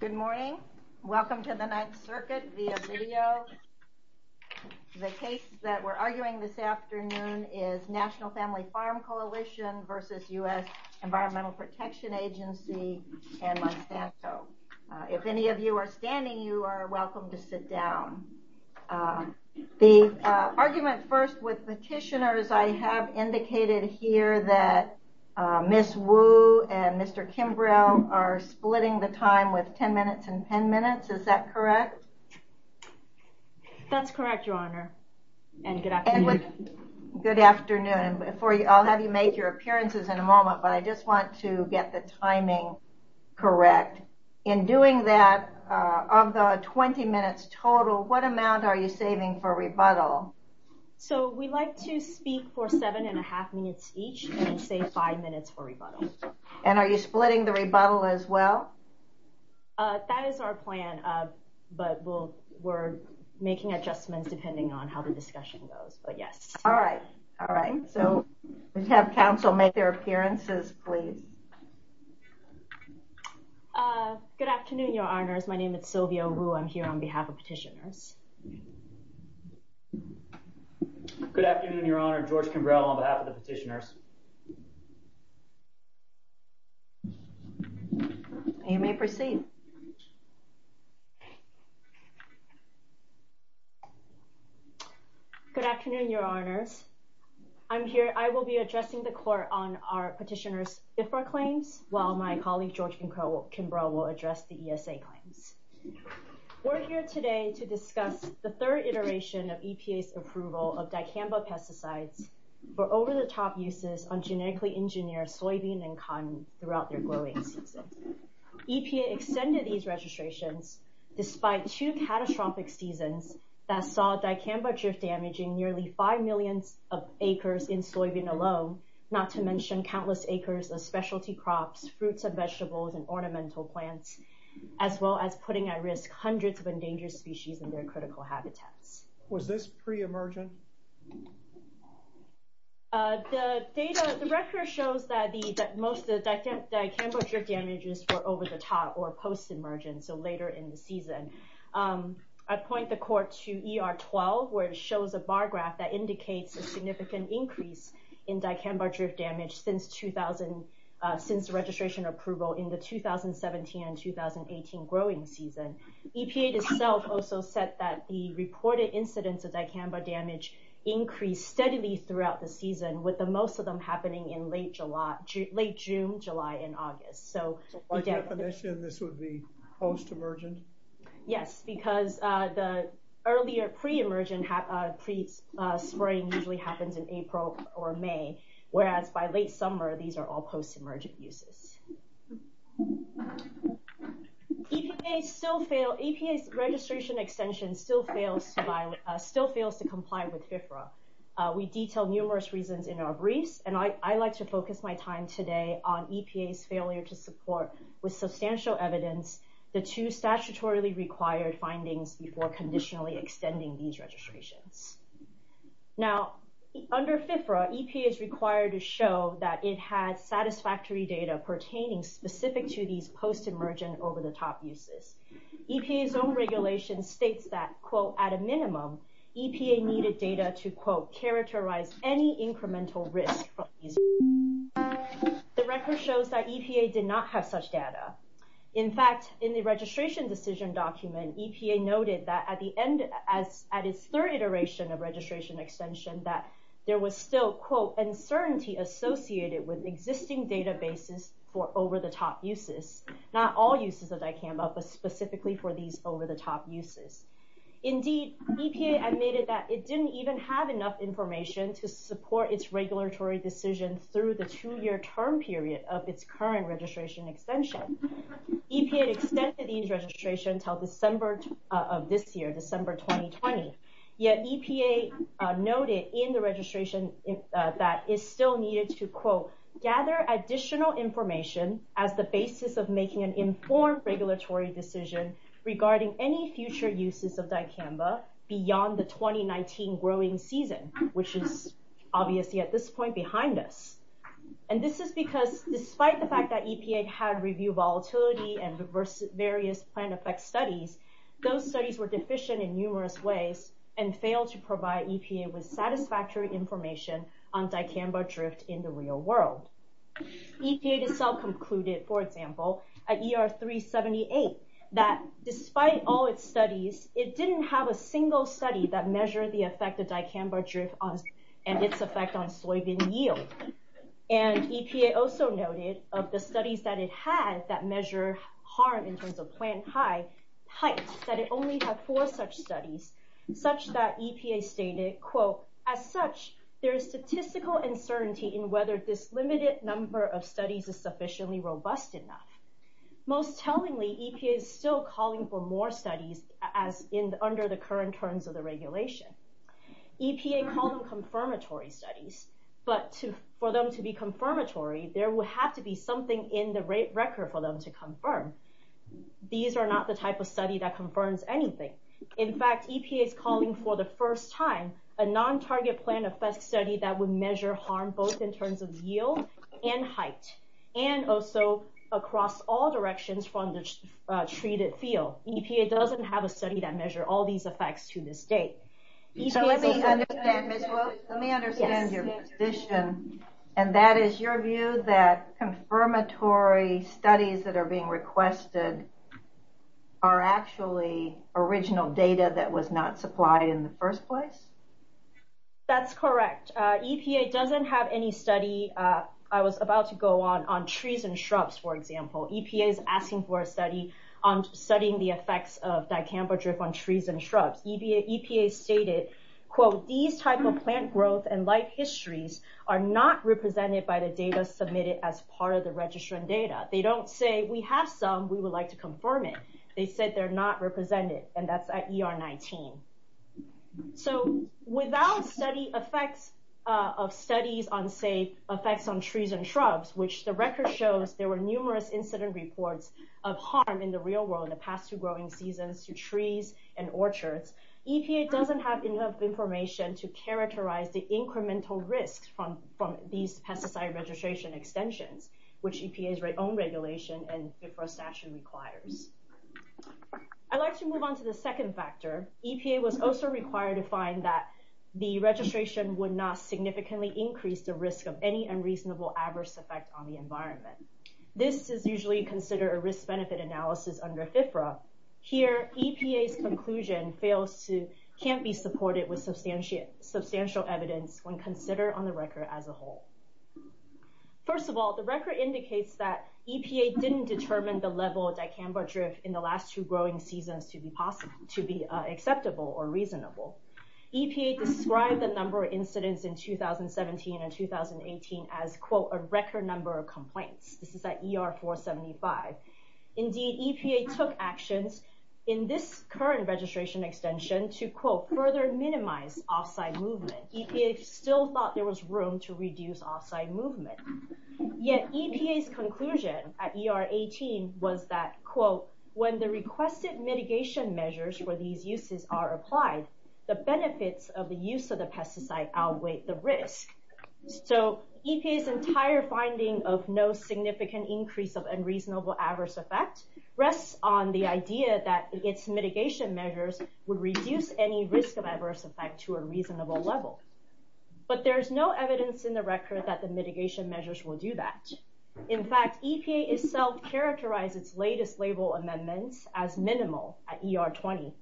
Good morning. Welcome to the 9th Circuit via video. The case that we're arguing this afternoon is National Family Farm Coalition v. US Environmental Protection Agency and Monsanto. If any of you are standing, you are welcome to sit down. The argument first with petitioners, I have the time with 10 minutes and 10 minutes. Is that correct? That's correct, Your Honor. And good afternoon. Good afternoon. I'll have you make your appearances in a moment, but I just want to get the timing correct. In doing that, of the 20 minutes total, what amount are you saving for rebuttal? So we like to speak for seven and a half minutes each and save five minutes for rebuttal. And are you splitting the rebuttal as well? That is our plan, but we're making adjustments depending on how the discussion goes, but yes. All right. All right. So we have counsel make their appearances, please. Good afternoon, Your Honors. My name is Sylvia Wu. I'm here on behalf of petitioners. Good afternoon, Your Honor. George Kimbrell on behalf of the petitioners. You may proceed. Good afternoon, Your Honors. I'm here. I will be addressing the court on our petitioners' IFRA claims while my colleague George Kimbrell will address the ESA claims. We're here today to discuss the third iteration of EPA's approval of dicamba pesticides for over 100 years. This is one of the top uses on genetically engineered soybean and cotton throughout their growing seasons. EPA extended these registrations despite two catastrophic seasons that saw dicamba drift damaging nearly 5 million acres in soybean alone, not to mention countless acres of specialty crops, fruits and vegetables, and ornamental plants, as well as putting at risk hundreds of endangered species in their critical habitats. Was this pre-emergent? The data, the record shows that most of the dicamba drift damages were over the top or post-emergent, so later in the season. I point the court to ER-12, where it shows a bar graph that indicates a significant increase in dicamba drift damage since the registration approval in the 2017 and 2018 growing season. EPA itself also said that the reported incidence of dicamba damage increased steadily throughout the season, with the most of them happening in late June, July, and August. By definition, this would be post-emergent? Yes, because the earlier pre-emergent, pre-spring usually happens in April or May, whereas by late summer, these are all post-emergent uses. EPA's registration extension still fails to comply with FFRA. We detail numerous reasons in our briefs, and I'd like to focus my time today on EPA's failure to support, with substantial evidence, the two statutorily required findings before conditionally extending these registrations. Now, under FFRA, EPA is required to show that it had satisfactory data pertaining specific to these post-emergent over-the-top uses. EPA's own regulation states that, quote, at a minimum, EPA needed data to, quote, characterize any incremental risk. The record shows that EPA did not have such data. In fact, in the registration decision document, EPA noted that at the end, at its third iteration of registration extension, that there was still, quote, uncertainty associated with existing databases for over-the-top uses, not all uses of Dicamba, but specifically for these over-the-top uses. Indeed, EPA admitted that it didn't even have enough information to support its regulatory decision through the two-year term period of its current registration extension. EPA extended these registrations until December of this year, December 2020, yet EPA noted in the registration that it still needed to, quote, as the basis of making an informed regulatory decision regarding any future uses of Dicamba beyond the 2019 growing season, which is obviously at this point behind us. And this is because despite the fact that EPA had reviewed volatility and various plant effect studies, those studies were deficient in numerous ways and failed to provide EPA with satisfactory information on for example, at ER 378, that despite all its studies, it didn't have a single study that measured the effect of Dicamba drift and its effect on soybean yield. And EPA also noted of the studies that it had that measure harm in terms of plant height, that it only had four such studies, such that EPA stated, quote, as such, there is statistical uncertainty in whether this limited number of studies is sufficiently robust enough. Most tellingly, EPA is still calling for more studies as in under the current terms of the regulation. EPA called them confirmatory studies, but for them to be confirmatory, there will have to be something in the rate record for them to confirm. These are not the type of study that confirms anything. In fact, EPA is calling for the first time a non-target plant effect study that would measure harm both in terms of yield and height, and also across all directions from the treated field. EPA doesn't have a study that measure all these effects to this date. So let me understand, Ms. Wu, let me understand your position. And that is your view that confirmatory studies that are being requested are actually original data that was not supplied in the first place? That's correct. EPA doesn't have any study, I was about to go on, on trees and shrubs, for example. EPA is asking for a study on studying the effects of dicamba drip on trees and shrubs. EPA stated, quote, these type of plant growth and life histories are not represented by the data submitted as part of the registration data. They don't say we have some, we would like to confirm it. They said they're not represented, and that's at ER 19. So without study effects of studies on, say, effects on trees and shrubs, which the record shows there were numerous incident reports of harm in the real world in the past two growing seasons to trees and orchards, EPA doesn't have enough information to characterize the incremental risks from these pesticide registration extensions, which EPA's own regulation and FFRA statute requires. I'd like to move on to the second factor. EPA was also required to find that the registration would not significantly increase the risk of any unreasonable adverse effect on the environment. This is usually considered a risk benefit analysis under FFRA. Here, EPA's conclusion fails to, can't be supported with substantial evidence when considered on the record as a whole. First of all, the record indicates that EPA didn't determine the level of dicamba drift in the last two growing seasons to be acceptable or reasonable. EPA described the number of incidents in 2017 and 2018 as, quote, a record number of complaints. This is at ER 475. Indeed, EPA took actions in this current registration extension to, quote, further minimize offsite movement. EPA still thought there was room to reduce offsite movement. Yet EPA's conclusion at ER 18 was that, quote, when the requested mitigation measures for these uses are applied, the benefits of the use of the pesticide outweigh the risk. So EPA's entire finding of no significant increase of unreasonable adverse effect rests on the idea that its risk of adverse effect to a reasonable level. But there's no evidence in the record that the mitigation measures will do that. In fact, EPA itself characterized its latest label amendments as minimal at ER 20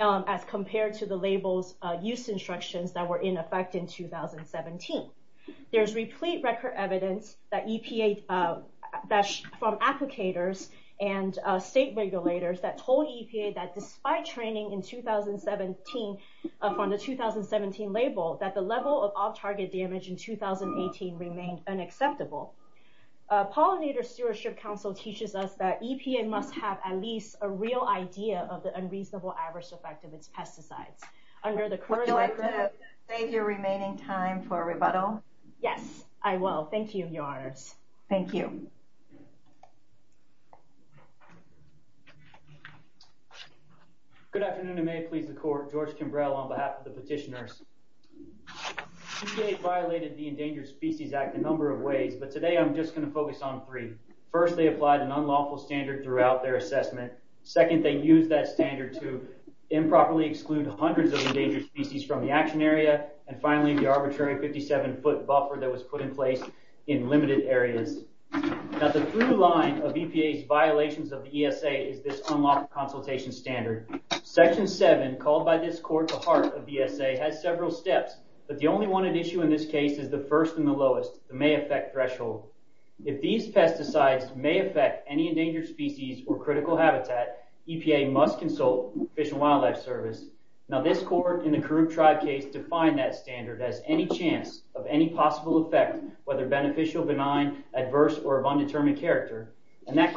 as compared to the label's use instructions that were in effect in 2017. There's replete record evidence that EPA, that's from applicators and state regulators that told from the 2017 label that the level of off-target damage in 2018 remained unacceptable. Pollinator Stewardship Council teaches us that EPA must have at least a real idea of the unreasonable adverse effect of its pesticides. Under the current— Would you like to save your remaining time for rebuttal? Yes, I will. Thank you, Your Honors. Thank you. Good afternoon, and may it please the Court. George Kimbrell on behalf of the petitioners. EPA violated the Endangered Species Act a number of ways, but today I'm just going to focus on three. First, they applied an unlawful standard throughout their assessment. Second, they used that standard to improperly exclude hundreds of endangered species from the action area. And finally, the arbitrary 57-foot buffer that was put in place in limited areas. Now, the through line of EPA's violations of the ESA is this unlawful consultation standard. Section 7, called by this Court the heart of the ESA, has several steps, but the only one at issue in this case is the first and the lowest, the may affect threshold. If these pesticides may affect any endangered species or critical habitat, EPA must consult Fish and Wildlife Service. Now, this Court in the Karuk Tribe case defined that standard as any chance of any possible effect, whether beneficial, benign, adverse, or of undetermined character. And that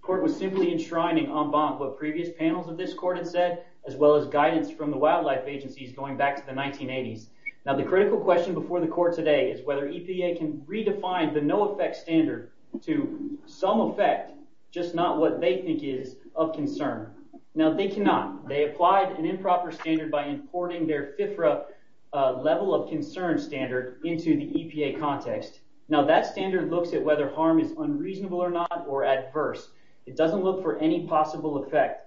Court was simply enshrining en banc what previous panels of this Court had said, as well as guidance from the wildlife agencies going back to the 1980s. Now, the critical question before the Court today is whether EPA can redefine the no effect standard to some effect, just not what they think is of concern. Now, they cannot. They applied an standard into the EPA context. Now, that standard looks at whether harm is unreasonable or not or adverse. It doesn't look for any possible effect.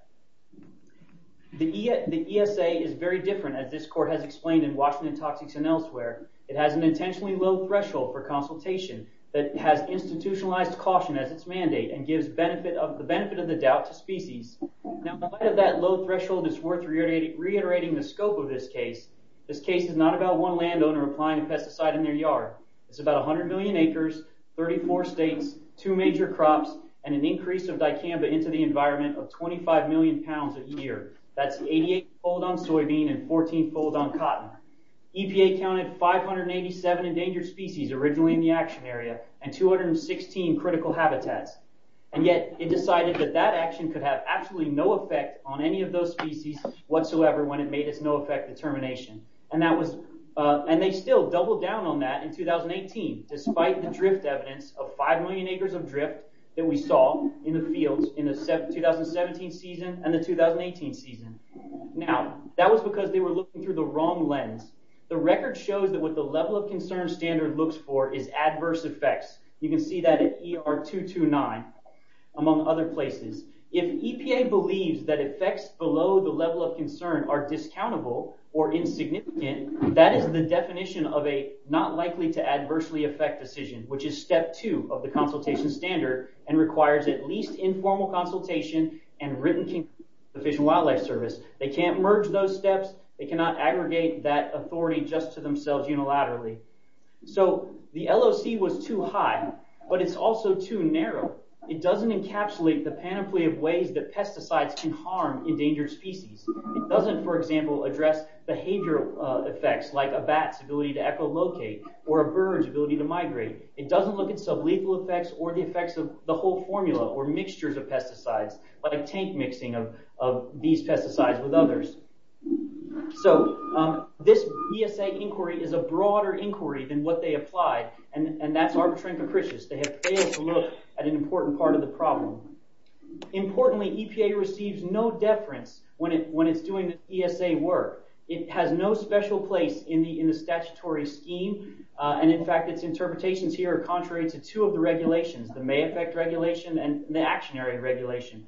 The ESA is very different, as this Court has explained in Washington Toxics and Elsewhere. It has an intentionally low threshold for consultation that has institutionalized caution as its mandate and gives the benefit of the doubt to species. Now, in light of that low threshold, it's worth reiterating the scope of this case. This case is not about one landowner applying a pesticide in their yard. It's about 100 million acres, 34 states, two major crops, and an increase of dicamba into the environment of 25 million pounds a year. That's 88 fold on soybean and 14 fold on cotton. EPA counted 587 endangered species originally in the action area and 216 critical habitats. And yet, it decided that that action could have absolutely no effect on any of those species whatsoever when it made its no effect determination. And they still doubled down on that in 2018, despite the drift evidence of 5 million acres of drift that we saw in the fields in the 2017 season and the 2018 season. Now, that was because they were looking through the wrong lens. The record shows that what the level of concern standard looks for is adverse effects. You can see that at ER 229, among other places. If EPA believes that effects below the level of concern are discountable or insignificant, that is the definition of a not likely to adversely affect decision, which is step two of the consultation standard and requires at least informal consultation and written consent from the Fish and Wildlife Service. They can't merge those steps. They cannot aggregate that authority just to themselves unilaterally. So, the LOC was too high, but it's also too narrow. It doesn't encapsulate the panoply of ways that pesticides can harm endangered species. It doesn't, for example, address behavioral effects like a bat's ability to echolocate or a bird's ability to migrate. It doesn't look at some lethal effects or the effects of the whole formula or mixtures of pesticides, like tank mixing of these pesticides with others. So, this BSA inquiry is a broader inquiry than what they applied, and that's arbitrary and capricious. They have failed to look at an important part of the problem. Importantly, EPA receives no deference when it's doing the BSA work. It has no special place in the statutory scheme, and in fact, its interpretations here are contrary to two of the regulations, the May Effect Regulation and the Actionary Regulation.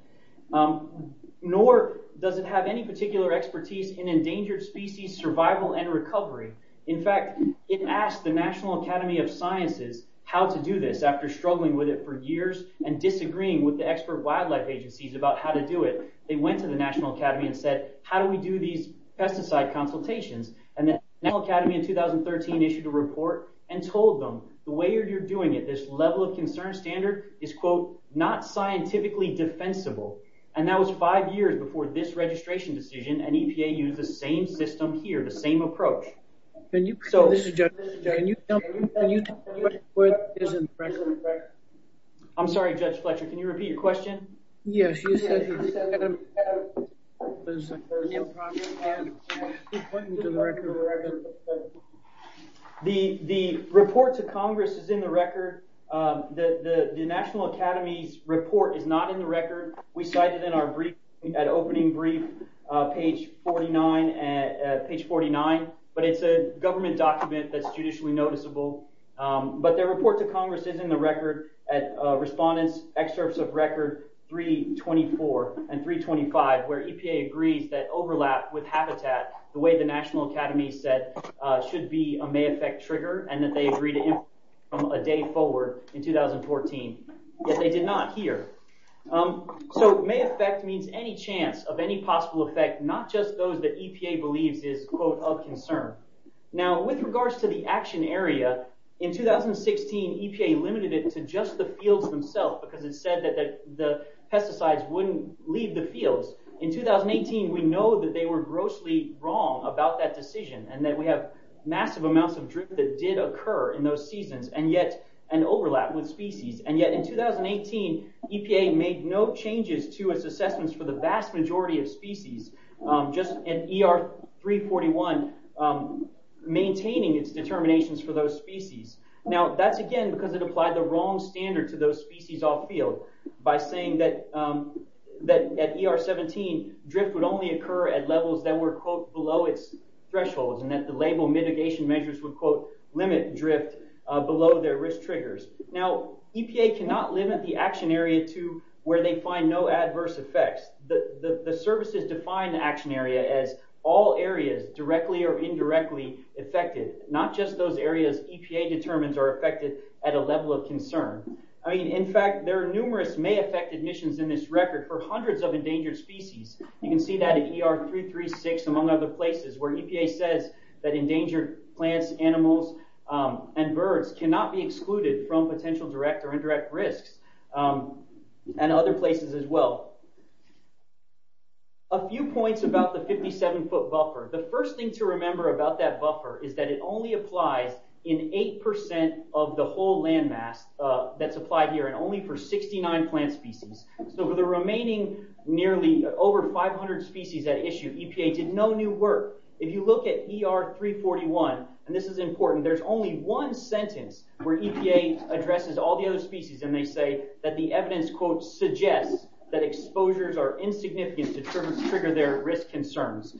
Nor does it have any particular expertise in endangered species survival and recovery. In fact, it asked the National Academy of Sciences how to do this after struggling with it for years and disagreeing with the expert wildlife agencies about how to do it. They went to the National Academy and said, how do we do these pesticide consultations? The National Academy in 2013 issued a report and told them, the way you're doing it, this level of concern standard is, quote, not scientifically defensible. That was five years before this registration decision, and EPA used the same system here, the same approach. I'm sorry, Judge Fletcher, can you repeat your question? The report to Congress is in the record. The National Academy's not in the record. We cite it in our opening brief, page 49, but it's a government document that's judicially noticeable. Their report to Congress is in the record, at Respondent's Excerpts of Record 324 and 325, where EPA agrees that overlap with habitat, the way the National Academy said, should be a May Effect trigger, and that they agree to implement it from a day forward in 2014, yet they did not here. May Effect means any chance of any possible effect, not just those that EPA believes is, quote, of concern. With regards to the action area, in 2016, EPA limited it to just the fields themselves, because it said that the pesticides wouldn't leave the fields. In 2018, we know that they were grossly wrong about that decision, and that we have massive amounts of drift that did occur in those seasons, and yet, an overlap with species. Yet, in 2018, EPA made no changes to its assessments for the vast majority of species, just in ER 341, maintaining its determinations for those species. That's, again, because it applied the wrong standard to those species off-field, by saying that at ER 17, drift would only occur at levels that were, quote, below its thresholds, and that the label mitigation measures would, quote, limit drift below their risk triggers. Now, EPA cannot limit the action area to where they find no adverse effects. The services define the action area as all areas directly or indirectly affected, not just those areas EPA determines are affected at a level of concern. In fact, there are numerous may affect admissions in this record for hundreds of endangered species. You can see that at ER 336, among other places, where EPA says that endangered plants, animals, and birds cannot be excluded from potential direct or indirect risks, and other places as well. A few points about the 57-foot buffer. The first thing to remember about that buffer is that it only applies in 8% of the whole landmass that's applied here, and only for 69 plant species. For the remaining nearly over 500 species at issue, EPA did no new work. If you look at ER 341, and this is important, there's only one sentence where EPA addresses all the other species, and they say that the evidence, quote, suggests that exposures are insignificant to trigger their concerns.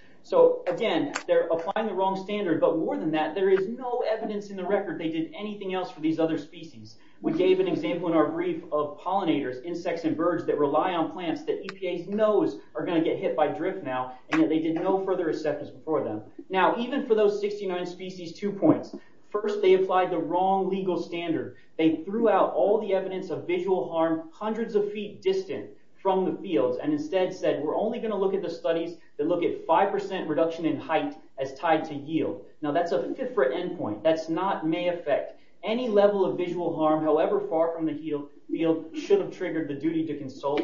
Again, they're applying the wrong standard, but more than that, there is no evidence in the record they did anything else for these other species. We gave an example in our brief of pollinators, insects and birds that rely on plants that EPA knows are going to get hit by drift now, and yet they did no further acceptance for them. Even for those 69 species, two points. First, they applied the wrong legal standard. They threw out all the evidence of visual harm hundreds of feet distant from the fields, and instead said we're only going to look at the studies that look at 5% reduction in height as tied to yield. Now, that's a different endpoint. That's not may affect any level of visual harm, however far from the field should have triggered the duty to consult.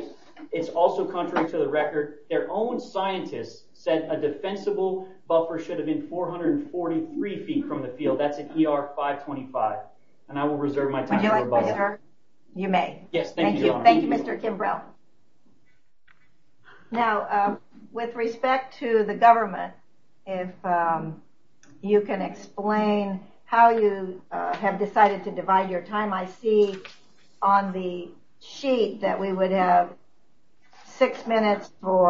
It's also contrary to the record. Their own scientists said a defensible buffer should have been 443 feet from the field. That's an ER 525, and I will reserve my time. Thank you, Mr. Kimbrough. Now, with respect to the government, if you can explain how you have decided to divide your time, I see on the sheet that we would have six minutes for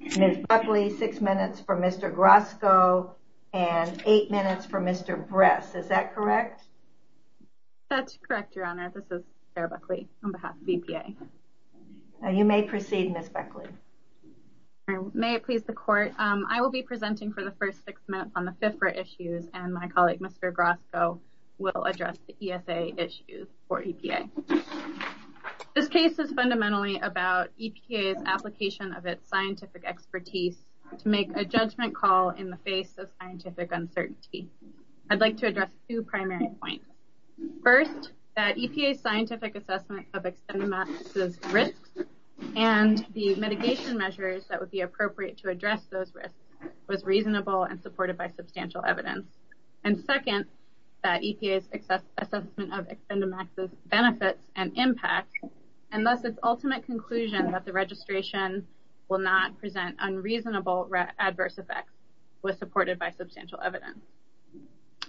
Ms. Buckley, six minutes for Mr. Grosko, and eight minutes for Mr. Bress. Is that correct? That's correct, Your Honor. This is Sarah Buckley on behalf of EPA. You may proceed, Ms. Buckley. May it please the Court, I will be presenting for the first six minutes on the FIFRA issues, and my colleague Mr. Grosko will address the ESA issues for EPA. This case is fundamentally about EPA's application of its scientific expertise to make a judgment call in the face of scientific uncertainty. I'd like to address two primary points. First, that EPA's scientific assessment of Expendamax's risks and the mitigation measures that would be appropriate to address those risks was reasonable and supported by substantial evidence. And second, that EPA's assessment of Expendamax's benefits and impact, and thus its ultimate conclusion that the registration will not present unreasonable adverse effects, was supported by substantial evidence.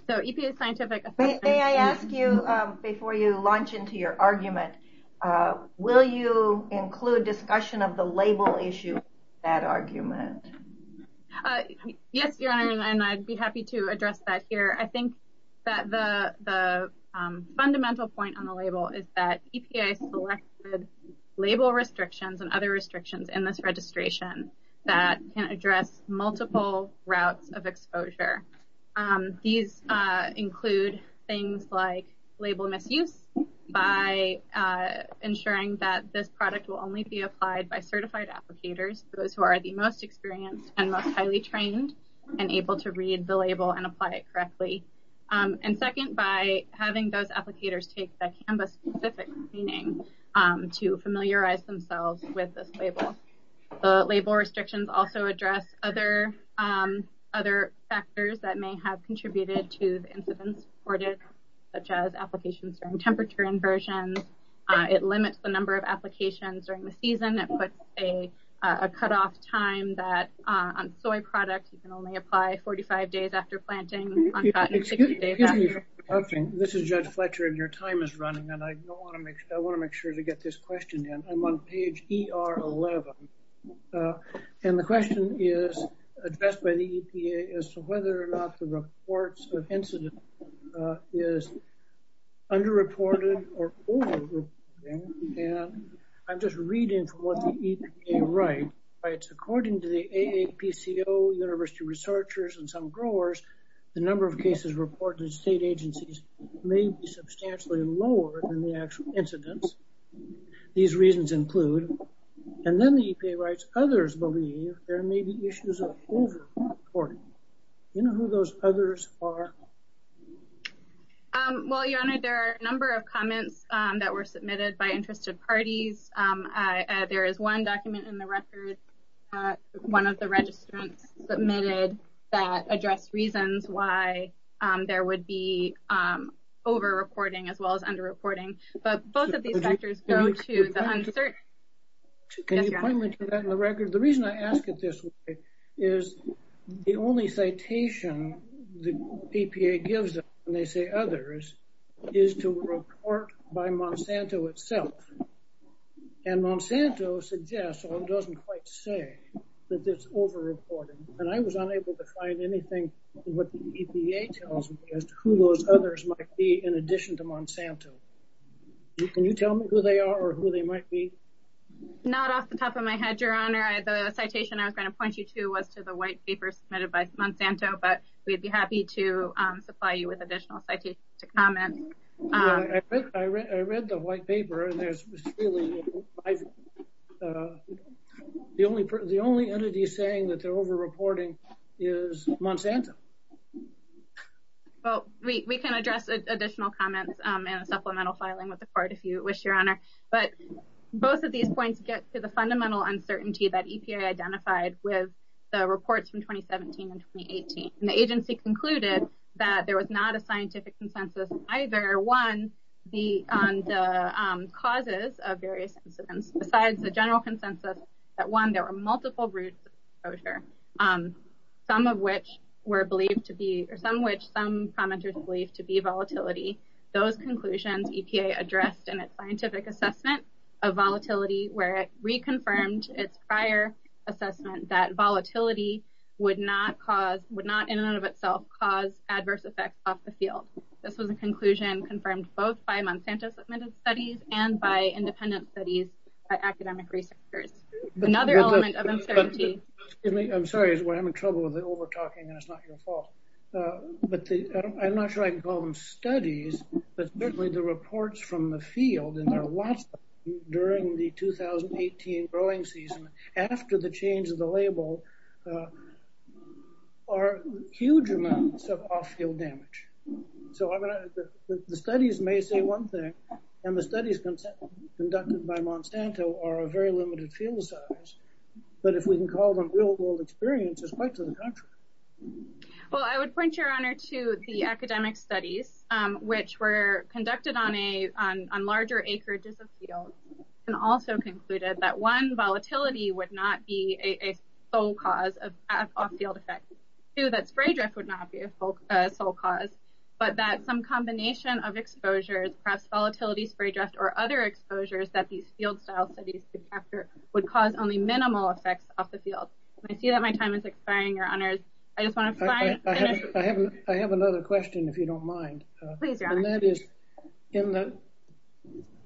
May I ask you, before you launch into your argument, will you include discussion of the label issue in that argument? Yes, Your Honor, and I'd be happy to address that here. I think that the fundamental point on the label is that EPA selected label restrictions and other restrictions in this registration that can address multiple routes of exposure. These include things like label misuse by ensuring that this product will only be applied by certified applicators, those who are the most experienced and most highly trained and able to read the label and apply it correctly. And second, by having those applicators take the CANVA-specific screening to familiarize themselves with this label. The label restrictions also address other factors that may have contributed to the incidents reported, such as applications during temperature inversions. It limits the number of applications during the season. It puts a cutoff time that on soy products, you can only apply 45 days after planting, on cotton 60 days after. Excuse me for interrupting. This is Judge Fletcher, and your time is running, and I want to make sure to get this question in. I'm on page ER11, and the question is addressed by the EPA as to whether or not the reports of incidents is underreported or overreported. And I'm just reading from what the EPA writes. According to the AAPCO, university researchers, and some growers, the number of cases reported in state And then the EPA writes, others believe there may be issues of overreporting. Do you know who those others are? Well, your honor, there are a number of comments that were submitted by interested parties. There is one document in the record, one of the registrants submitted, that addressed reasons why there would be overreporting as well as underreporting. But both of these factors go to the unsearched. Can you point me to that in the record? The reason I ask it this way is the only citation the EPA gives them when they say others is to report by Monsanto itself. And Monsanto suggests, or doesn't quite say, that it's overreported. And I was unable to find anything what the EPA tells me as to who those others might be in addition to Monsanto. Can you tell me who they are or who they might be? Not off the top of my head, your honor. The citation I was going to point you to was to the white paper submitted by Monsanto, but we'd be happy to supply you with additional citations to comment. I read the white paper and there's the only entity saying that they're overreporting is Monsanto. Well, we can address additional comments and supplemental filing with the court if you wish, your honor. But both of these points get to the fundamental uncertainty that EPA identified with the reports from 2017 and 2018. And the agency concluded that there was not a scientific consensus either on the causes of various incidents besides the general consensus that, one, there were some which some commenters believe to be volatility. Those conclusions EPA addressed in its scientific assessment of volatility where it reconfirmed its prior assessment that volatility would not in and of itself cause adverse effects off the field. This was a conclusion confirmed both by Monsanto submitted studies and by independent studies by academic researchers. Another element of uncertainty. Excuse me, I'm sorry, we're having trouble with the over-talking and it's not your fault. But I'm not sure I can call them studies, but certainly the reports from the field and there are lots of them during the 2018 growing season after the change of the label are huge amounts of off-field damage. So the studies may say one thing and the studies conducted by Monsanto are a very limited field size. But if we can call them real-world experiences, quite to the contrary. Well, I would point your honor to the academic studies which were conducted on larger acreages of field and also concluded that one, volatility would not be a sole cause of off-field effects. Two, that spray drift would not be a sole cause, but that combination of exposures, perhaps volatility, spray drift, or other exposures that these field style studies could capture would cause only minimal effects off the field. I see that my time is expiring, your honors. I just want to finish. I have another question if you don't mind. Please, your honor. And that is in the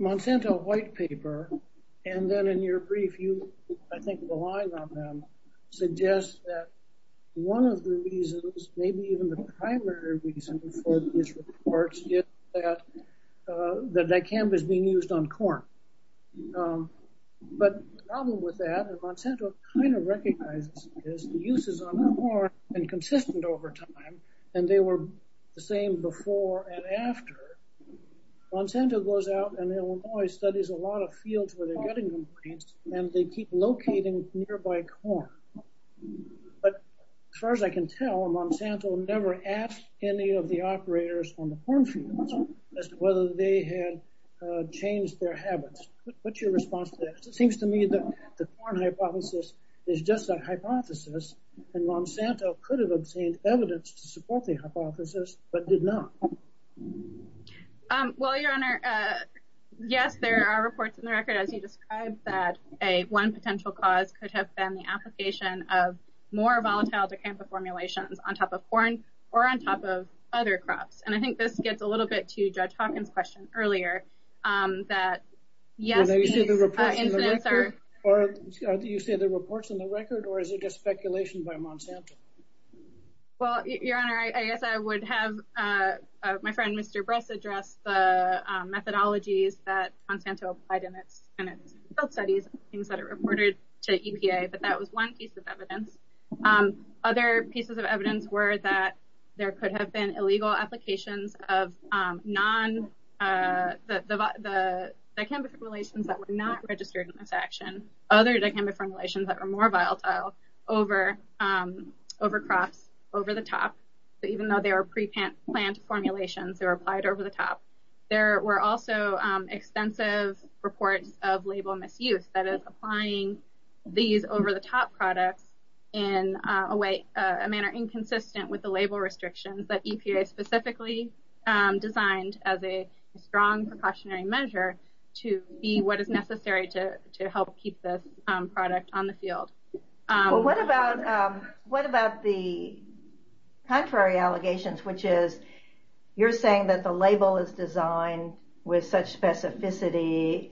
Monsanto white paper and then in your brief you, I think relying on them, suggest that one of the reasons, maybe even the primary reason for these reports is that dicamba is being used on corn. But the problem with that, and Monsanto kind of recognizes this, the uses on corn have been consistent over time and they were the same before and after. Monsanto goes out and Illinois studies a lot of fields where they're getting complaints and they keep locating nearby corn. But as far as I can tell, Monsanto never asked any of the operators on the corn fields as to whether they had changed their habits. What's your response to that? It seems to me that the corn hypothesis is just a hypothesis and Monsanto could have obtained evidence to support the hypothesis, but did not. Well, your honor, yes, there are reports in the record, as you described, that a one potential cause could have been the application of more volatile dicamba formulations on top of corn or on top of other crops. And I think this gets a little bit to Judge Hawkins' question earlier, that yes, these incidents are... Do you say the reports in the record or is it just speculation by Monsanto? Well, your honor, I guess I would have my friend Mr. Bress address the methodologies that Monsanto applied in its field studies, things that it reported to EPA, but that was one piece of evidence. Other pieces of evidence were that there could have been illegal applications of non... The dicamba formulations that were not registered in this action, other dicamba formulations that were more volatile over crops, over the top. So even though they were pre-plant formulations, they were applied over the top. There were also extensive reports of label misuse that is applying these over the top products in a way, a manner inconsistent with the label restrictions that EPA specifically designed as a strong precautionary measure to be what is necessary to help keep this product on the field. Well, what about the contrary allegations, which is you're saying that the label is designed with such specificity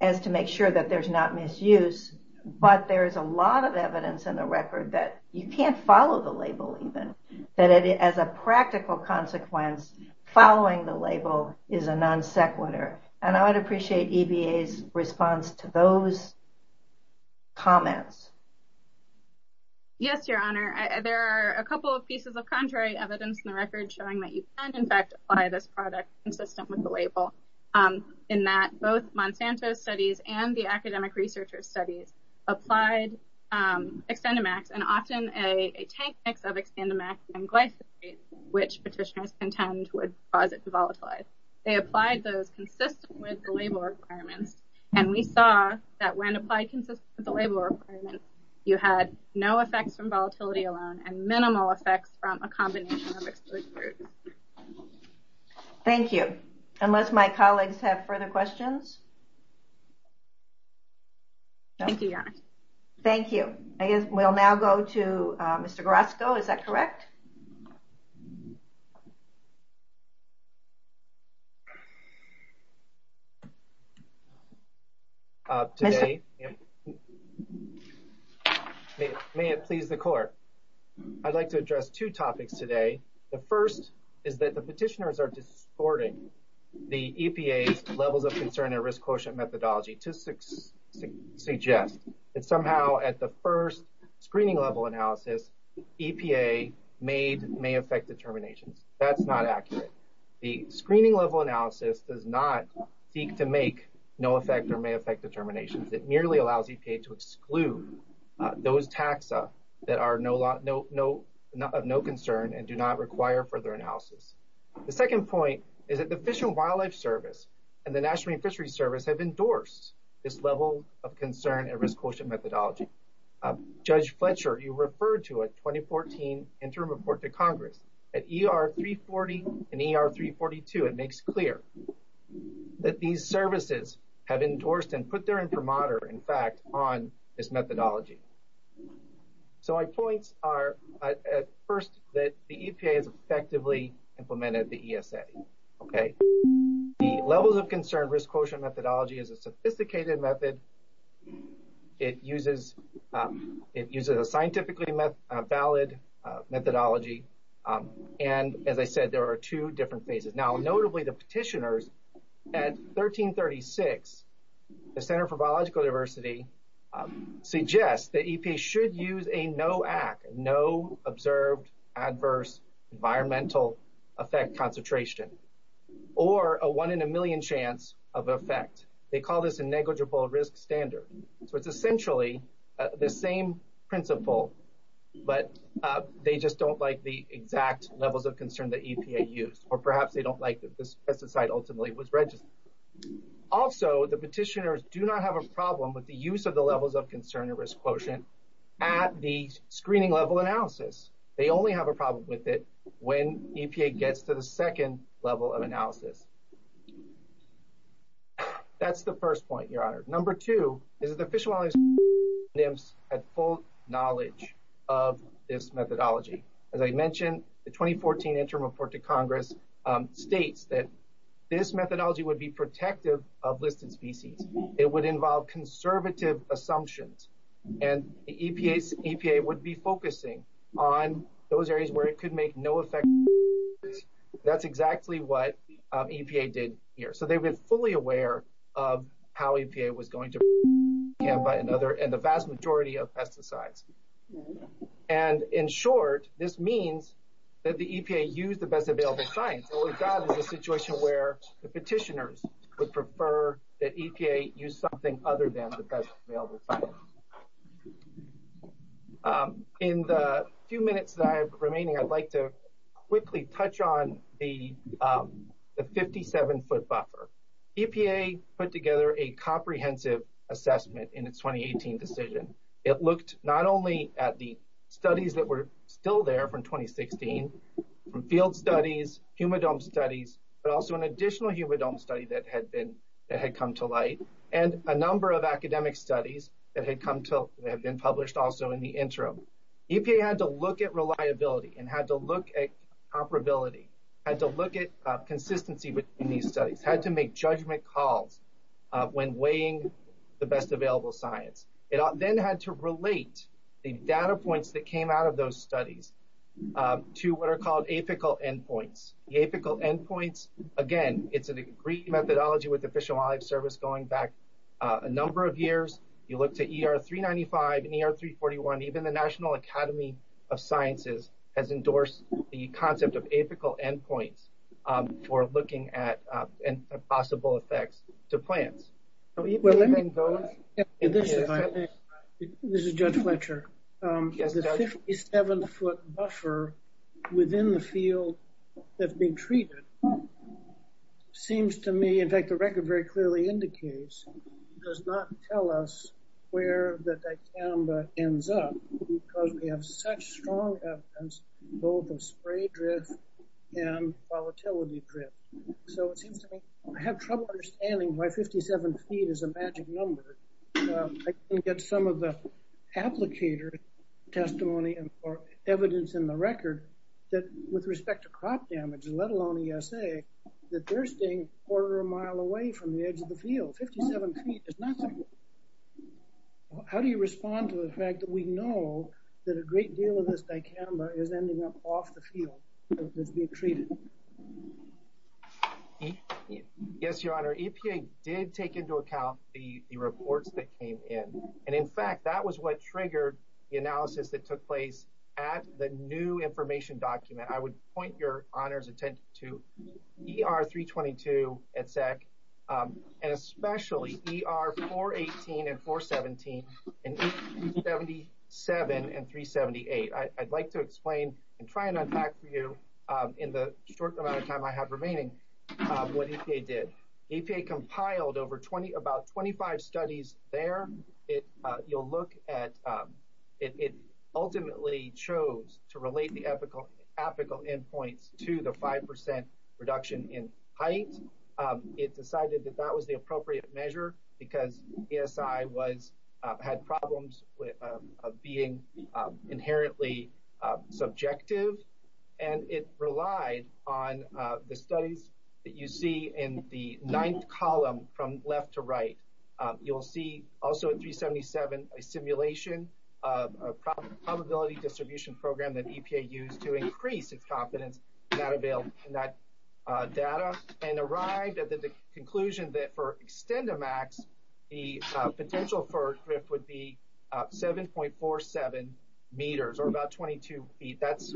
as to make sure that there's not misuse, but there's a lot of evidence in the record that you can't follow the label even, that as a practical consequence, following the label is a non sequitur. And I would appreciate EPA's response to those comments. Yes, your honor. There are a couple of pieces of contrary evidence in the record showing that you can, in fact, apply this product consistent with the label in that both Monsanto's studies and the academic researchers' studies applied Xtendimax and often a tank mix of Xtendimax and glyphosate, which petitioners contend would cause it to volatilize. They applied those consistent with the label requirements, and we saw that when applied consistent with the label requirements, you had no effects from volatility alone and minimal effects from a combination of exclude groups. Thank you. Unless my colleagues have further questions? Thank you, your honor. Thank you. I guess we'll now go to Mr. Grosko, is that correct? Mr. Grosko, may it please the court? I'd like to address two topics today. The first is that the petitioners are distorting the EPA's levels of concern and risk quotient methodology to suggest that somehow at the first screening level analysis, EPA made may affect determinations. That's not accurate. The screening level analysis does not seek to make no effect or may affect determinations. It merely allows EPA to exclude those taxa that are of no concern and do not require further analysis. The second point is that the Fish and Wildlife Service and the National Marine Fisheries Service have endorsed this level of concern and risk quotient methodology. Judge Fletcher, you referred to a 2014 interim report to Congress. At ER 340 and ER 342, it makes clear that these services have endorsed and put their intermoder, in fact, on this methodology. So my points are at first that the EPA has effectively implemented the ESA, okay? The it uses a scientifically valid methodology. And as I said, there are two different phases. Now, notably, the petitioners at 1336, the Center for Biological Diversity, suggests that EPA should use a no act, no observed adverse environmental effect concentration, or a one in a million chance of effect. They call this a negligible risk standard. So it's essentially the same principle, but they just don't like the exact levels of concern that EPA used, or perhaps they don't like that this pesticide ultimately was registered. Also, the petitioners do not have a problem with the use of the levels of concern and risk quotient at the screening level analysis. They only have a problem with it when EPA gets to the second level of analysis. That's the first point, Your Honor. Number two, is that the Fish and Wildlife Administration has full knowledge of this methodology. As I mentioned, the 2014 interim report to Congress states that this methodology would be protective of listed species. It would involve conservative assumptions. And the EPA would be focusing on those areas where it could make no effect. That's exactly what EPA did here. So they've been fully aware of how EPA was going to handle another and the vast majority of pesticides. And in short, this means that the EPA used the best available science. What we've got is a situation where the petitioners would prefer that EPA use something other than the best available science. In the few minutes that are left, I'd like to quickly touch on the 57-foot buffer. EPA put together a comprehensive assessment in its 2018 decision. It looked not only at the studies that were still there from 2016, field studies, humidome studies, but also an additional humidome study that had come to light, and a number of academic studies that had come to have been published also in the interim. EPA had to look at reliability and had to look at comparability, had to look at consistency with these studies, had to make judgment calls when weighing the best available science. It then had to relate the data points that came out of those studies to what are called apical endpoints. The apical endpoints, again, it's an agreed methodology with the Fish and Wildlife Service going back a number of years. You look to ER 395 and ER 341, even the National Academy of Sciences has endorsed the concept of apical endpoints for looking at possible effects to plants. This is Judge Fletcher. The 57-foot buffer within the field that's being treated seems to me, in fact the record very clearly indicates, does not tell us where the dicamba ends up because we have such strong evidence both of spray drift and volatility drift. So it seems to me I have trouble understanding why 57 feet is a magic number. I can get some of the applicator testimony or evidence in the record that with respect to crop damage, let alone ESA, that they're staying a quarter of a mile away from the edge of the field. 57 feet is nothing. How do you respond to the fact that we know that a great deal of this dicamba is ending up off the field that's being treated? Yes, your honor. EPA did take into account the reports that came in and in fact that was what triggered the analysis that took place at the new information document. I would point your honor's attention to ER 322 at SAC and especially ER 418 and 417 and 77 and 378. I'd like to explain and try and unpack for you in the short amount of time I have remaining what EPA did. EPA compiled about 25 studies there. You'll look at, it ultimately chose to relate the ethical endpoints to the five percent reduction in height. It decided that that was the appropriate measure because ESI had problems with being inherently subjective and it relied on the studies that you see in the ninth column from left to right. You'll see also at 377 a simulation of a probability distribution program that EPA used to increase its confidence in that available data and arrived at the conclusion that for extenda max the potential for a drift would be 7.47 meters or about 22 feet. That's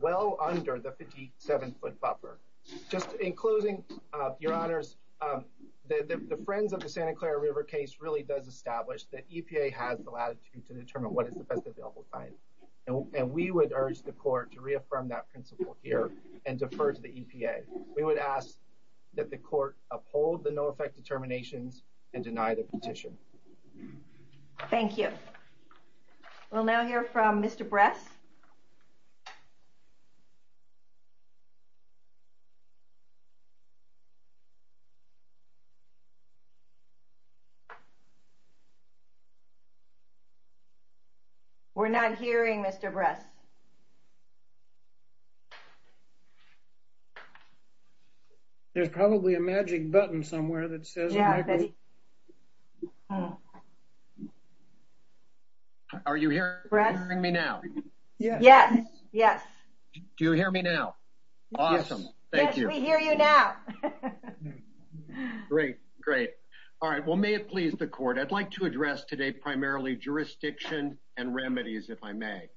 well under the 57 foot buffer. Just in closing, your honors, the Friends of the Santa Clara River case really does establish that EPA has the latitude to determine what is the best available time and we would urge the court to reaffirm that principle here and defer to the EPA. We would ask that the court uphold the no petition. Thank you. We'll now hear from Mr. Bress. We're not hearing Mr. Bress. There's probably a magic button somewhere that says. Are you hearing me now? Yes. Yes. Do you hear me now? Awesome. Thank you. Yes, we hear you now. Great. Great. All right. Well, may it please the court, I'd like to address today primarily jurisdiction and remedies if I may.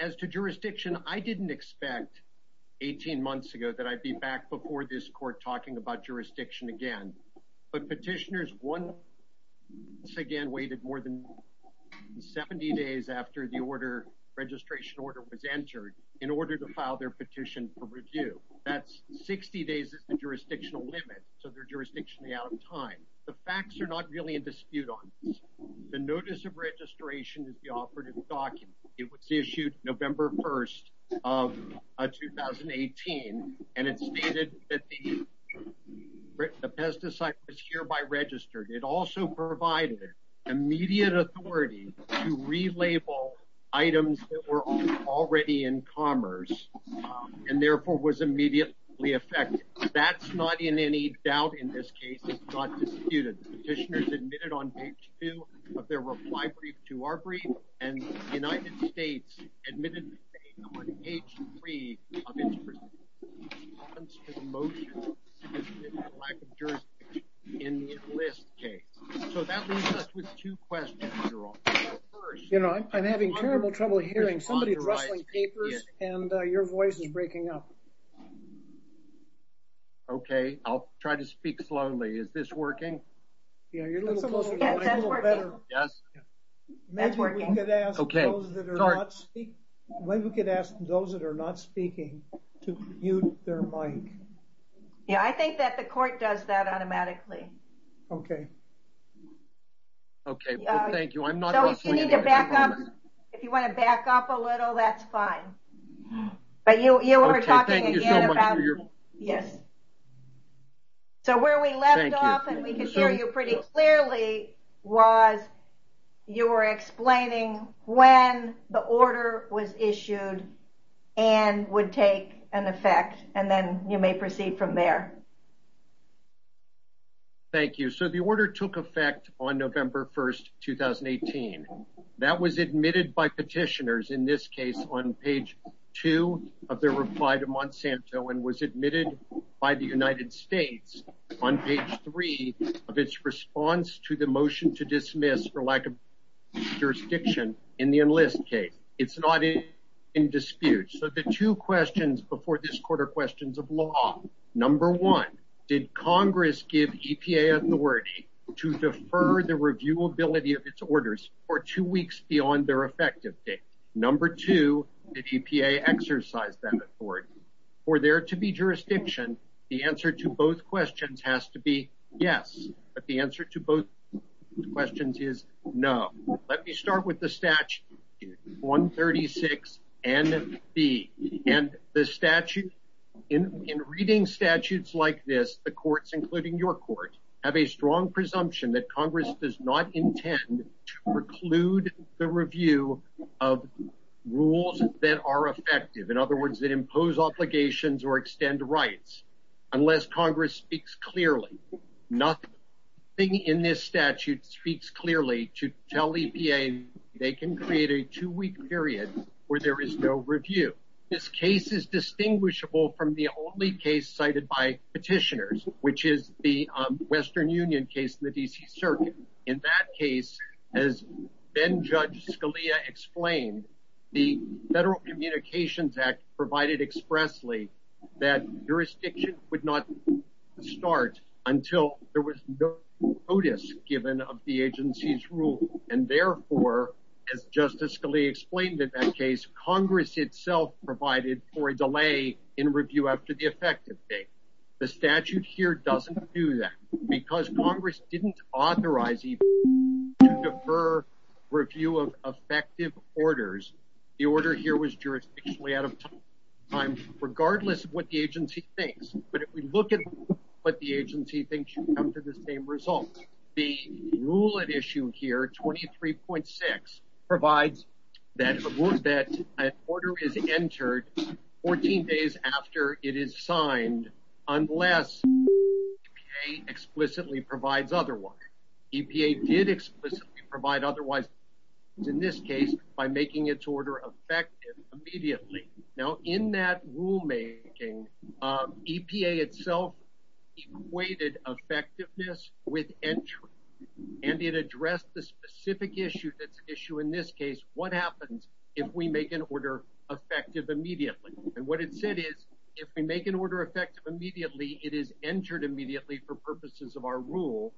As to jurisdiction, I didn't expect 18 months ago that I'd be back before this court talking about jurisdiction again. But petitioners once again waited more than 70 days after the order, registration order was entered in order to file their petition for review. That's 60 days is the jurisdictional limit. So they're jurisdictionally out of time. The facts are not really in dispute The notice of registration is the operative document. It was issued November 1st of 2018 and it stated that the pesticide was hereby registered. It also provided immediate authority to relabel items that were already in commerce and therefore was immediately affected. That's not in any doubt in this case. It's not disputed. Petitioners admitted on page two of their reply brief to our brief and the United States admitted on page three of its response to the motion in the enlist case. So that leaves us with two questions. You know, I'm having terrible trouble hearing somebody rustling papers and your voice is I'll try to speak slowly. Is this working? Yeah, you're a little better. Yes. Maybe we could ask those that are not speaking to mute their mic. Yeah, I think that the court does that automatically. Okay. Okay. Thank you. I'm not going to back up. If you want to back up a little, that's fine. But you were talking about. Yes. So where we left off and we could hear you pretty clearly was you were explaining when the order was issued and would take an effect and then you may proceed from there. Thank you. So the order took effect on November 1st, 2018. That was admitted by two of their reply to Monsanto and was admitted by the United States on page three of its response to the motion to dismiss for lack of jurisdiction in the enlist case. It's not in dispute. So the two questions before this court are questions of law. Number one, did Congress give EPA authority to defer the reviewability of its orders for two weeks beyond their effective date? Number two, did EPA exercise that authority? For there to be jurisdiction, the answer to both questions has to be yes. But the answer to both questions is no. Let me start with the statute 136NB. In reading statutes like this, the courts, including your court, have a strong presumption that Congress does not intend to preclude the review of rules that are effective. In other words, that impose obligations or extend rights unless Congress speaks clearly. Nothing in this statute speaks clearly to tell EPA they can create a two-week period where there is no review. This case is distinguishable from the only case cited by petitioners, which is the Western Union case in the D.C. Circuit. In that case, as then-Judge Scalia explained, the Federal Communications Act provided expressly that jurisdiction would not start until there was no notice given of the agency's rule. And therefore, as Justice Scalia explained in that case, Congress itself provided for a delay in review after the effective date. The statute here doesn't do that because Congress didn't authorize EPA to defer review of effective orders. The order here was jurisdictionally out of time, regardless of what the agency thinks. But if we look at what the agency thinks, you come to the same result. The rule at issue here, 23.6, provides that an order is entered 14 days after it is signed unless EPA explicitly provides otherwise. EPA did explicitly provide otherwise in this case by making its order effective immediately. Now, in that rulemaking, EPA itself equated effectiveness with entry, and it addressed the specific issue that's effective immediately. And what it said is, if we make an order effective immediately, it is entered immediately for purposes of our rule,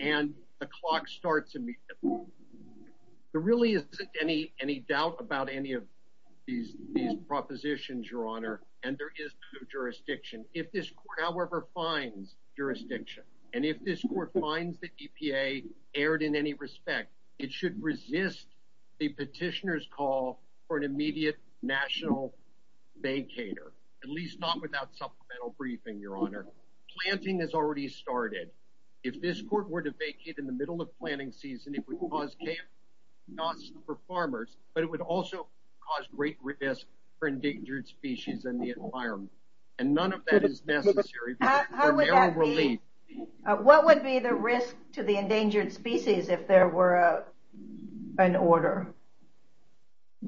and the clock starts immediately. There really isn't any doubt about any of these propositions, Your Honor, and there is no jurisdiction. If this Court, however, finds jurisdiction, and if this Court finds that EPA erred in any respect, it should resist the petitioner's call for an immediate national vacater, at least not without supplemental briefing, Your Honor. Planting has already started. If this Court were to vacate in the middle of planting season, it would cause chaos not just for farmers, but it would also cause great risk for endangered species and the environment. And none of that is necessary. What would be the risk to the endangered species if there were an order?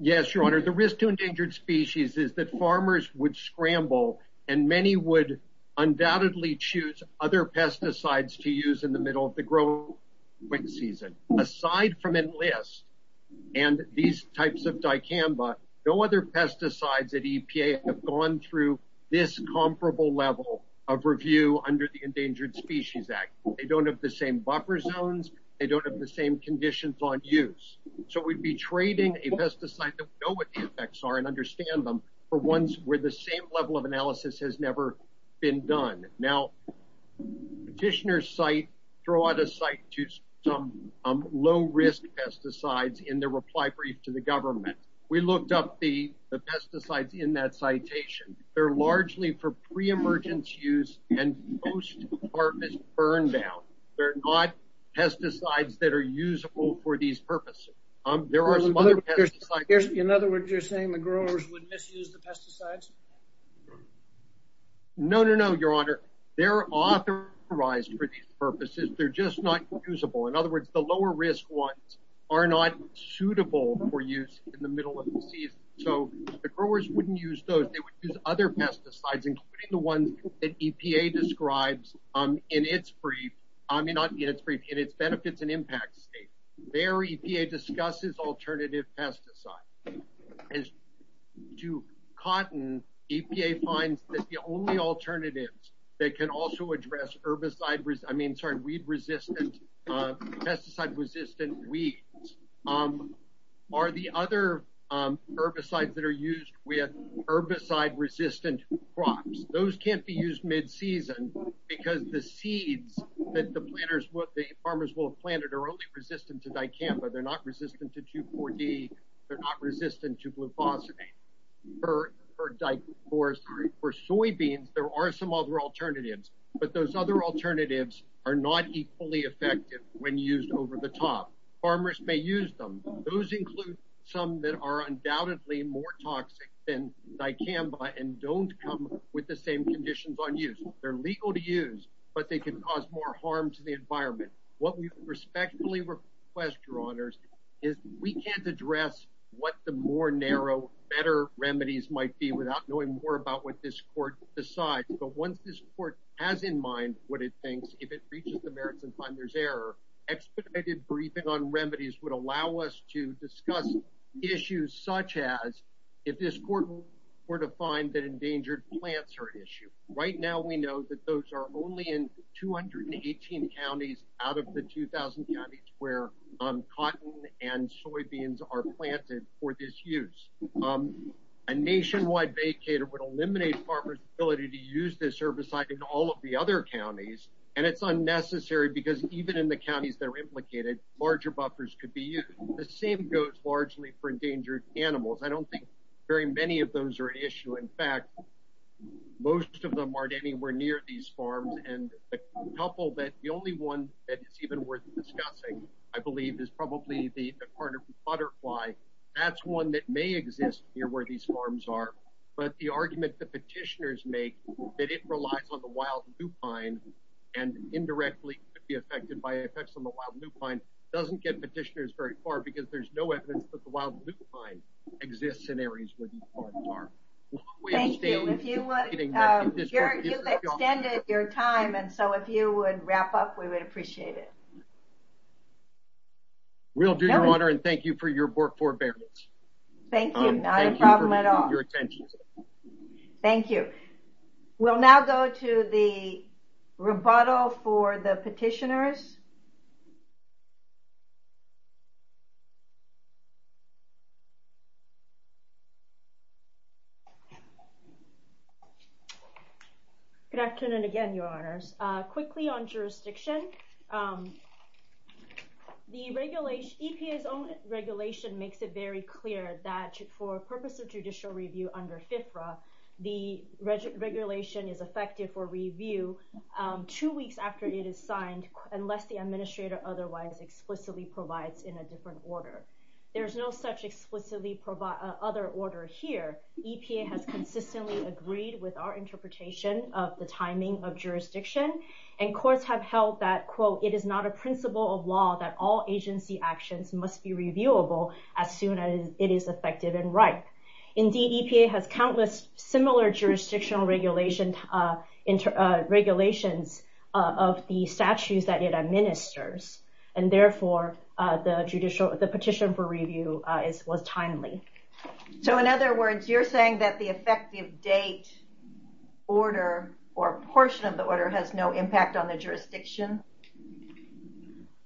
Yes, Your Honor, the risk to endangered species is that farmers would scramble and many would undoubtedly choose other pesticides to use in the middle of the growing season. Aside from dicamba, no other pesticides at EPA have gone through this comparable level of review under the Endangered Species Act. They don't have the same buffer zones. They don't have the same conditions on use. So we'd be trading a pesticide that we know what the effects are and understand them for ones where the same level of analysis has never been done. Now, petitioners throw out a We looked up the pesticides in that citation. They're largely for pre-emergence use, and most departments burn down. They're not pesticides that are usable for these purposes. In other words, you're saying the growers would misuse the pesticides? No, no, no, Your Honor. They're authorized for these purposes. They're just not usable. In other words, the growers wouldn't use those. They would use other pesticides, including the ones that EPA describes in its benefits and impacts state. There, EPA discusses alternative pesticides. To cotton, EPA finds that the only alternatives that can also address pesticide-resistant weeds are the other herbicides that are used with herbicide-resistant crops. Those can't be used mid-season because the seeds that the farmers will have planted are only resistant to dicamba. They're not resistant to 2,4-D. They're not resistant to glufosinate or dicor. For soybeans, there are some other alternatives, but those other alternatives are not equally effective when used over the top. Farmers may use them. Those include some that are undoubtedly more toxic than dicamba and don't come with the same conditions on use. They're legal to use, but they can cause more harm to the environment. What we respectfully request, Your Honors, is we can't address what the more narrow, better remedies might be without knowing more about what this court decides. But once this court has in mind what it thinks, if it reaches the merits and find there's error, expedited briefing on remedies would allow us to discuss issues such as if this court were to find that endangered plants are an issue. Right now, we know that those are only in 218 counties out of the 2,000 counties where cotton and soybeans are planted for this use. A nationwide vacater would eliminate farmers' ability to use this herbicide in all of the other counties because even in the counties that are implicated, larger buffers could be used. The same goes largely for endangered animals. I don't think very many of those are an issue. In fact, most of them aren't anywhere near these farms. The only one that is even worth discussing, I believe, is probably the carnivorous butterfly. That's one that may exist near where these farms are, but the argument the petitioners make that it relies on the wild dupine and indirectly could by effects on the wild dupine doesn't get petitioners very far because there's no evidence that the wild dupine exists in areas where these farms are. Thank you. You've extended your time, and so if you would wrap up, we would appreciate it. We'll do your honor and thank you for your work forbearance. Thank you. Not a problem at all. Thank you. We'll now go to the rebuttal for the petitioners. Good afternoon again, your honors. Quickly on jurisdiction, EPA's own regulation makes it very clear that for purpose of judicial review under FFRA, the regulation is effective for review two weeks after it is signed unless the administrator otherwise explicitly provides in a different order. There's no such explicitly other order here. EPA has consistently agreed with our interpretation of the timing of jurisdiction, and courts have held that, quote, it is not a principle of law that all agency actions must be similar jurisdictional regulations of the statutes that it administers. Therefore, the petition for review was timely. In other words, you're saying that the effective date order or portion of the order has no impact on the jurisdiction?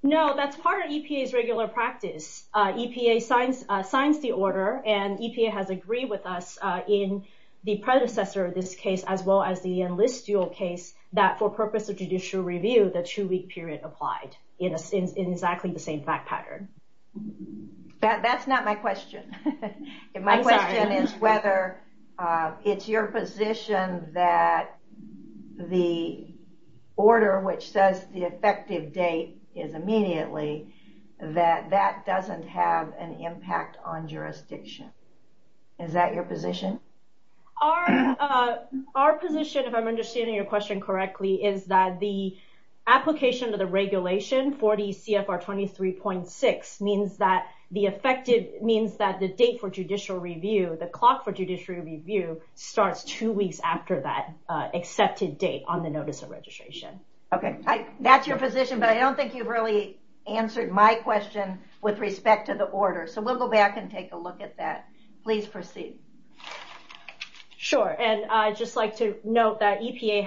No, that's part of EPA's regular practice. EPA signs the order, and EPA has agreed with us in the predecessor of this case as well as the enlist dual case that for purpose of judicial review, the two-week period applied in exactly the same fact pattern. That's not my question. My question is whether it's your position that the order which says the effective date is immediately, that that doesn't have an impact on jurisdiction. Is that your position? Our position, if I'm understanding your question correctly, is that the application of the regulation for the CFR 23.6 means that the date for judicial review, the clock for judicial review, starts two weeks after that accepted date on the notice of registration. That's your position, but I don't think you've really answered my question with respect to the order. We'll go back and take a look at that. Please proceed. Sure. I'd just like to note that EPA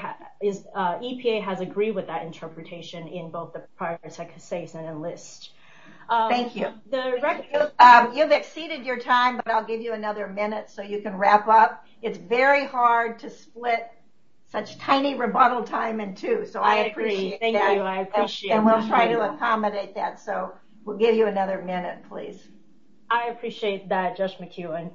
has agreed with that interpretation in both the prior second case and enlist. Thank you. You've exceeded your time, but I'll give you another minute so you can wrap up. It's very hard to split such tiny rebuttal time in two. I appreciate that. Thank you. I appreciate that. We'll try to accommodate that. We'll give you another minute, please. I appreciate that, Judge McEwen.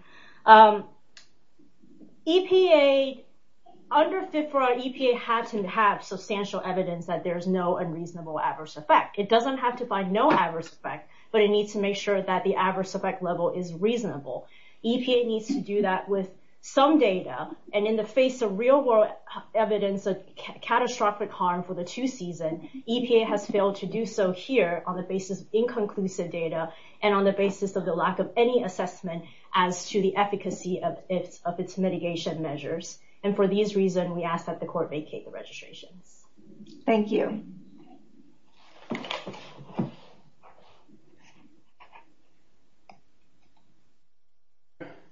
Under FFRA, EPA has to have substantial evidence that there's no unreasonable adverse effect. It doesn't have to find no adverse effect, but it needs to make sure that the adverse effect level is reasonable. EPA needs to do that with some data. In the face of real-world evidence of catastrophic harm for the two season, EPA has failed to do so here on the basis of inconclusive data and on the basis of the lack of any assessment as to the efficacy of its mitigation measures. For these reasons, we ask that the court vacate the registrations. Thank you. Thank you.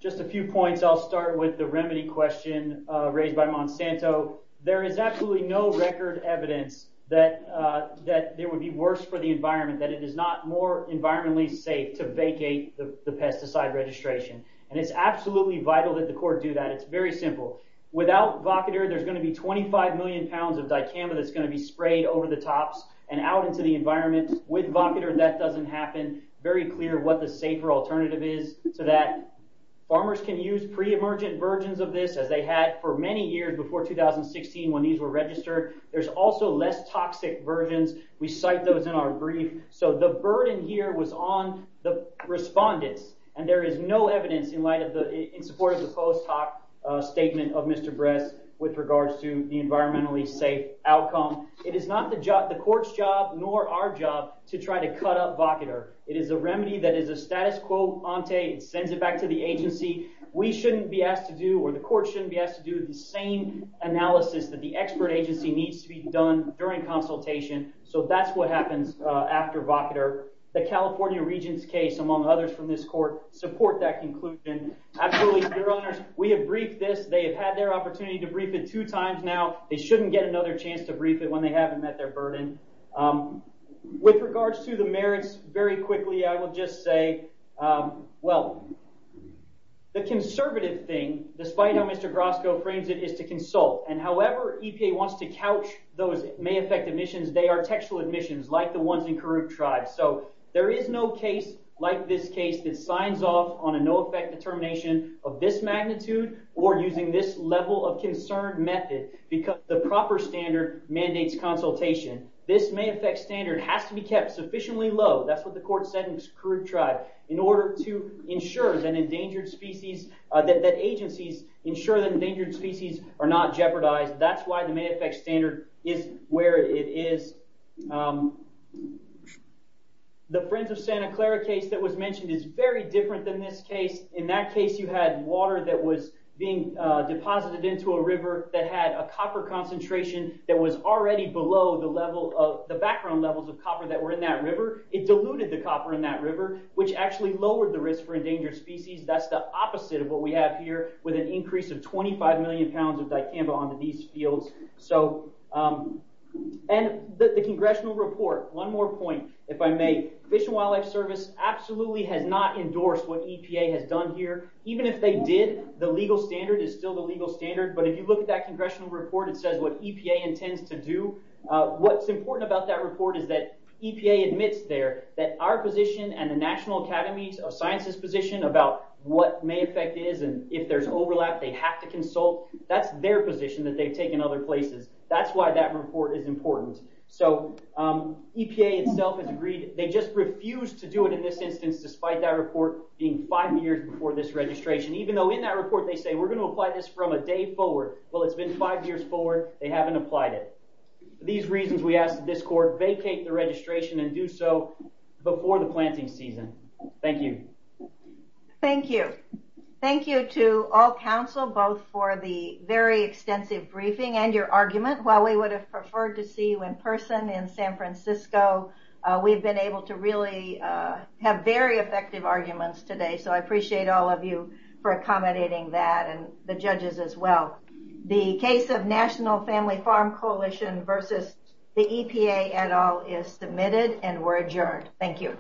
Just a few points. I'll start with the remedy question raised by Monsanto. There is absolutely no record evidence that there would be worse for the environment, that it is not more environmentally safe to vacate the pesticide registration. It's absolutely vital that the court do that. It's very simple. Without vocator, there's going to be 25 million pounds of dicamba that's going to be sprayed over the tops and out into the environment. With vocator, that doesn't happen. Very clear what the safer alternative is to that. Farmers can use pre-emergent versions of this as they had for many years before 2016 when these were registered. There's also less toxic versions. We cite those in our brief. So the burden here was on the respondents, and there is no evidence in support of the post hoc statement of Mr. Bress with regards to the environmentally safe outcome. It is not the court's job nor our job to try to cut up vocator. It is a remedy that is a status quo ante. It sends it back to the agency. We shouldn't be asked to do, or the court shouldn't be asked to do, the same analysis that the expert agency needs to be done during consultation. So that's what happens after vocator. The California Regent's case, among others from this court, support that conclusion. Absolutely, your honors, we have briefed this. They have had their opportunity to brief it two times now. They shouldn't get another chance to brief it when they haven't met their burden. With regards to the merits, very quickly I will just say, well, the conservative thing, despite how Mr. Grosko frames it, is to consult. And however EPA wants to couch those may affect admissions, they are textual admissions like the ones in Karuk tribes. So there is no case like this case that signs off on a no effect determination of magnitude or using this level of concern method because the proper standard mandates consultation. This may affect standard has to be kept sufficiently low, that's what the court said in Karuk tribe, in order to ensure that agencies ensure that endangered species are not jeopardized. That's why the may affect standard is where it is. The Friends of Santa Clara case that was mentioned is very different than this case. In that case you had water that was being deposited into a river that had a copper concentration that was already below the background levels of copper that were in that river. It diluted the copper in that river, which actually lowered the risk for endangered species. That's the opposite of what we have here with an increase of 25 million pounds of dicamba onto these fields. And the congressional report, one more point, if I may. Fish and Wildlife Service absolutely has not endorsed what EPA has done here. Even if they did, the legal standard is still the legal standard. But if you look at that congressional report, it says what EPA intends to do. What's important about that report is that EPA admits there that our position and the National Academy of Sciences position about what may affect is and if there's overlap, they have to consult. That's their position that they've taken other places. That's why that report is important. EPA itself has agreed. They just refused to do it in this instance, despite that report being five years before this registration, even though in that report they say we're going to apply this from a day forward. Well, it's been five years forward. They haven't applied it. For these reasons, we ask that this court vacate the registration and do so before the planting season. Thank you. Thank you. Thank you to all counsel, both for the very extensive briefing and your person in San Francisco. We've been able to really have very effective arguments today, so I appreciate all of you for accommodating that and the judges as well. The case of National Family Farm Coalition versus the EPA et al is submitted and we're adjourned. Thank you.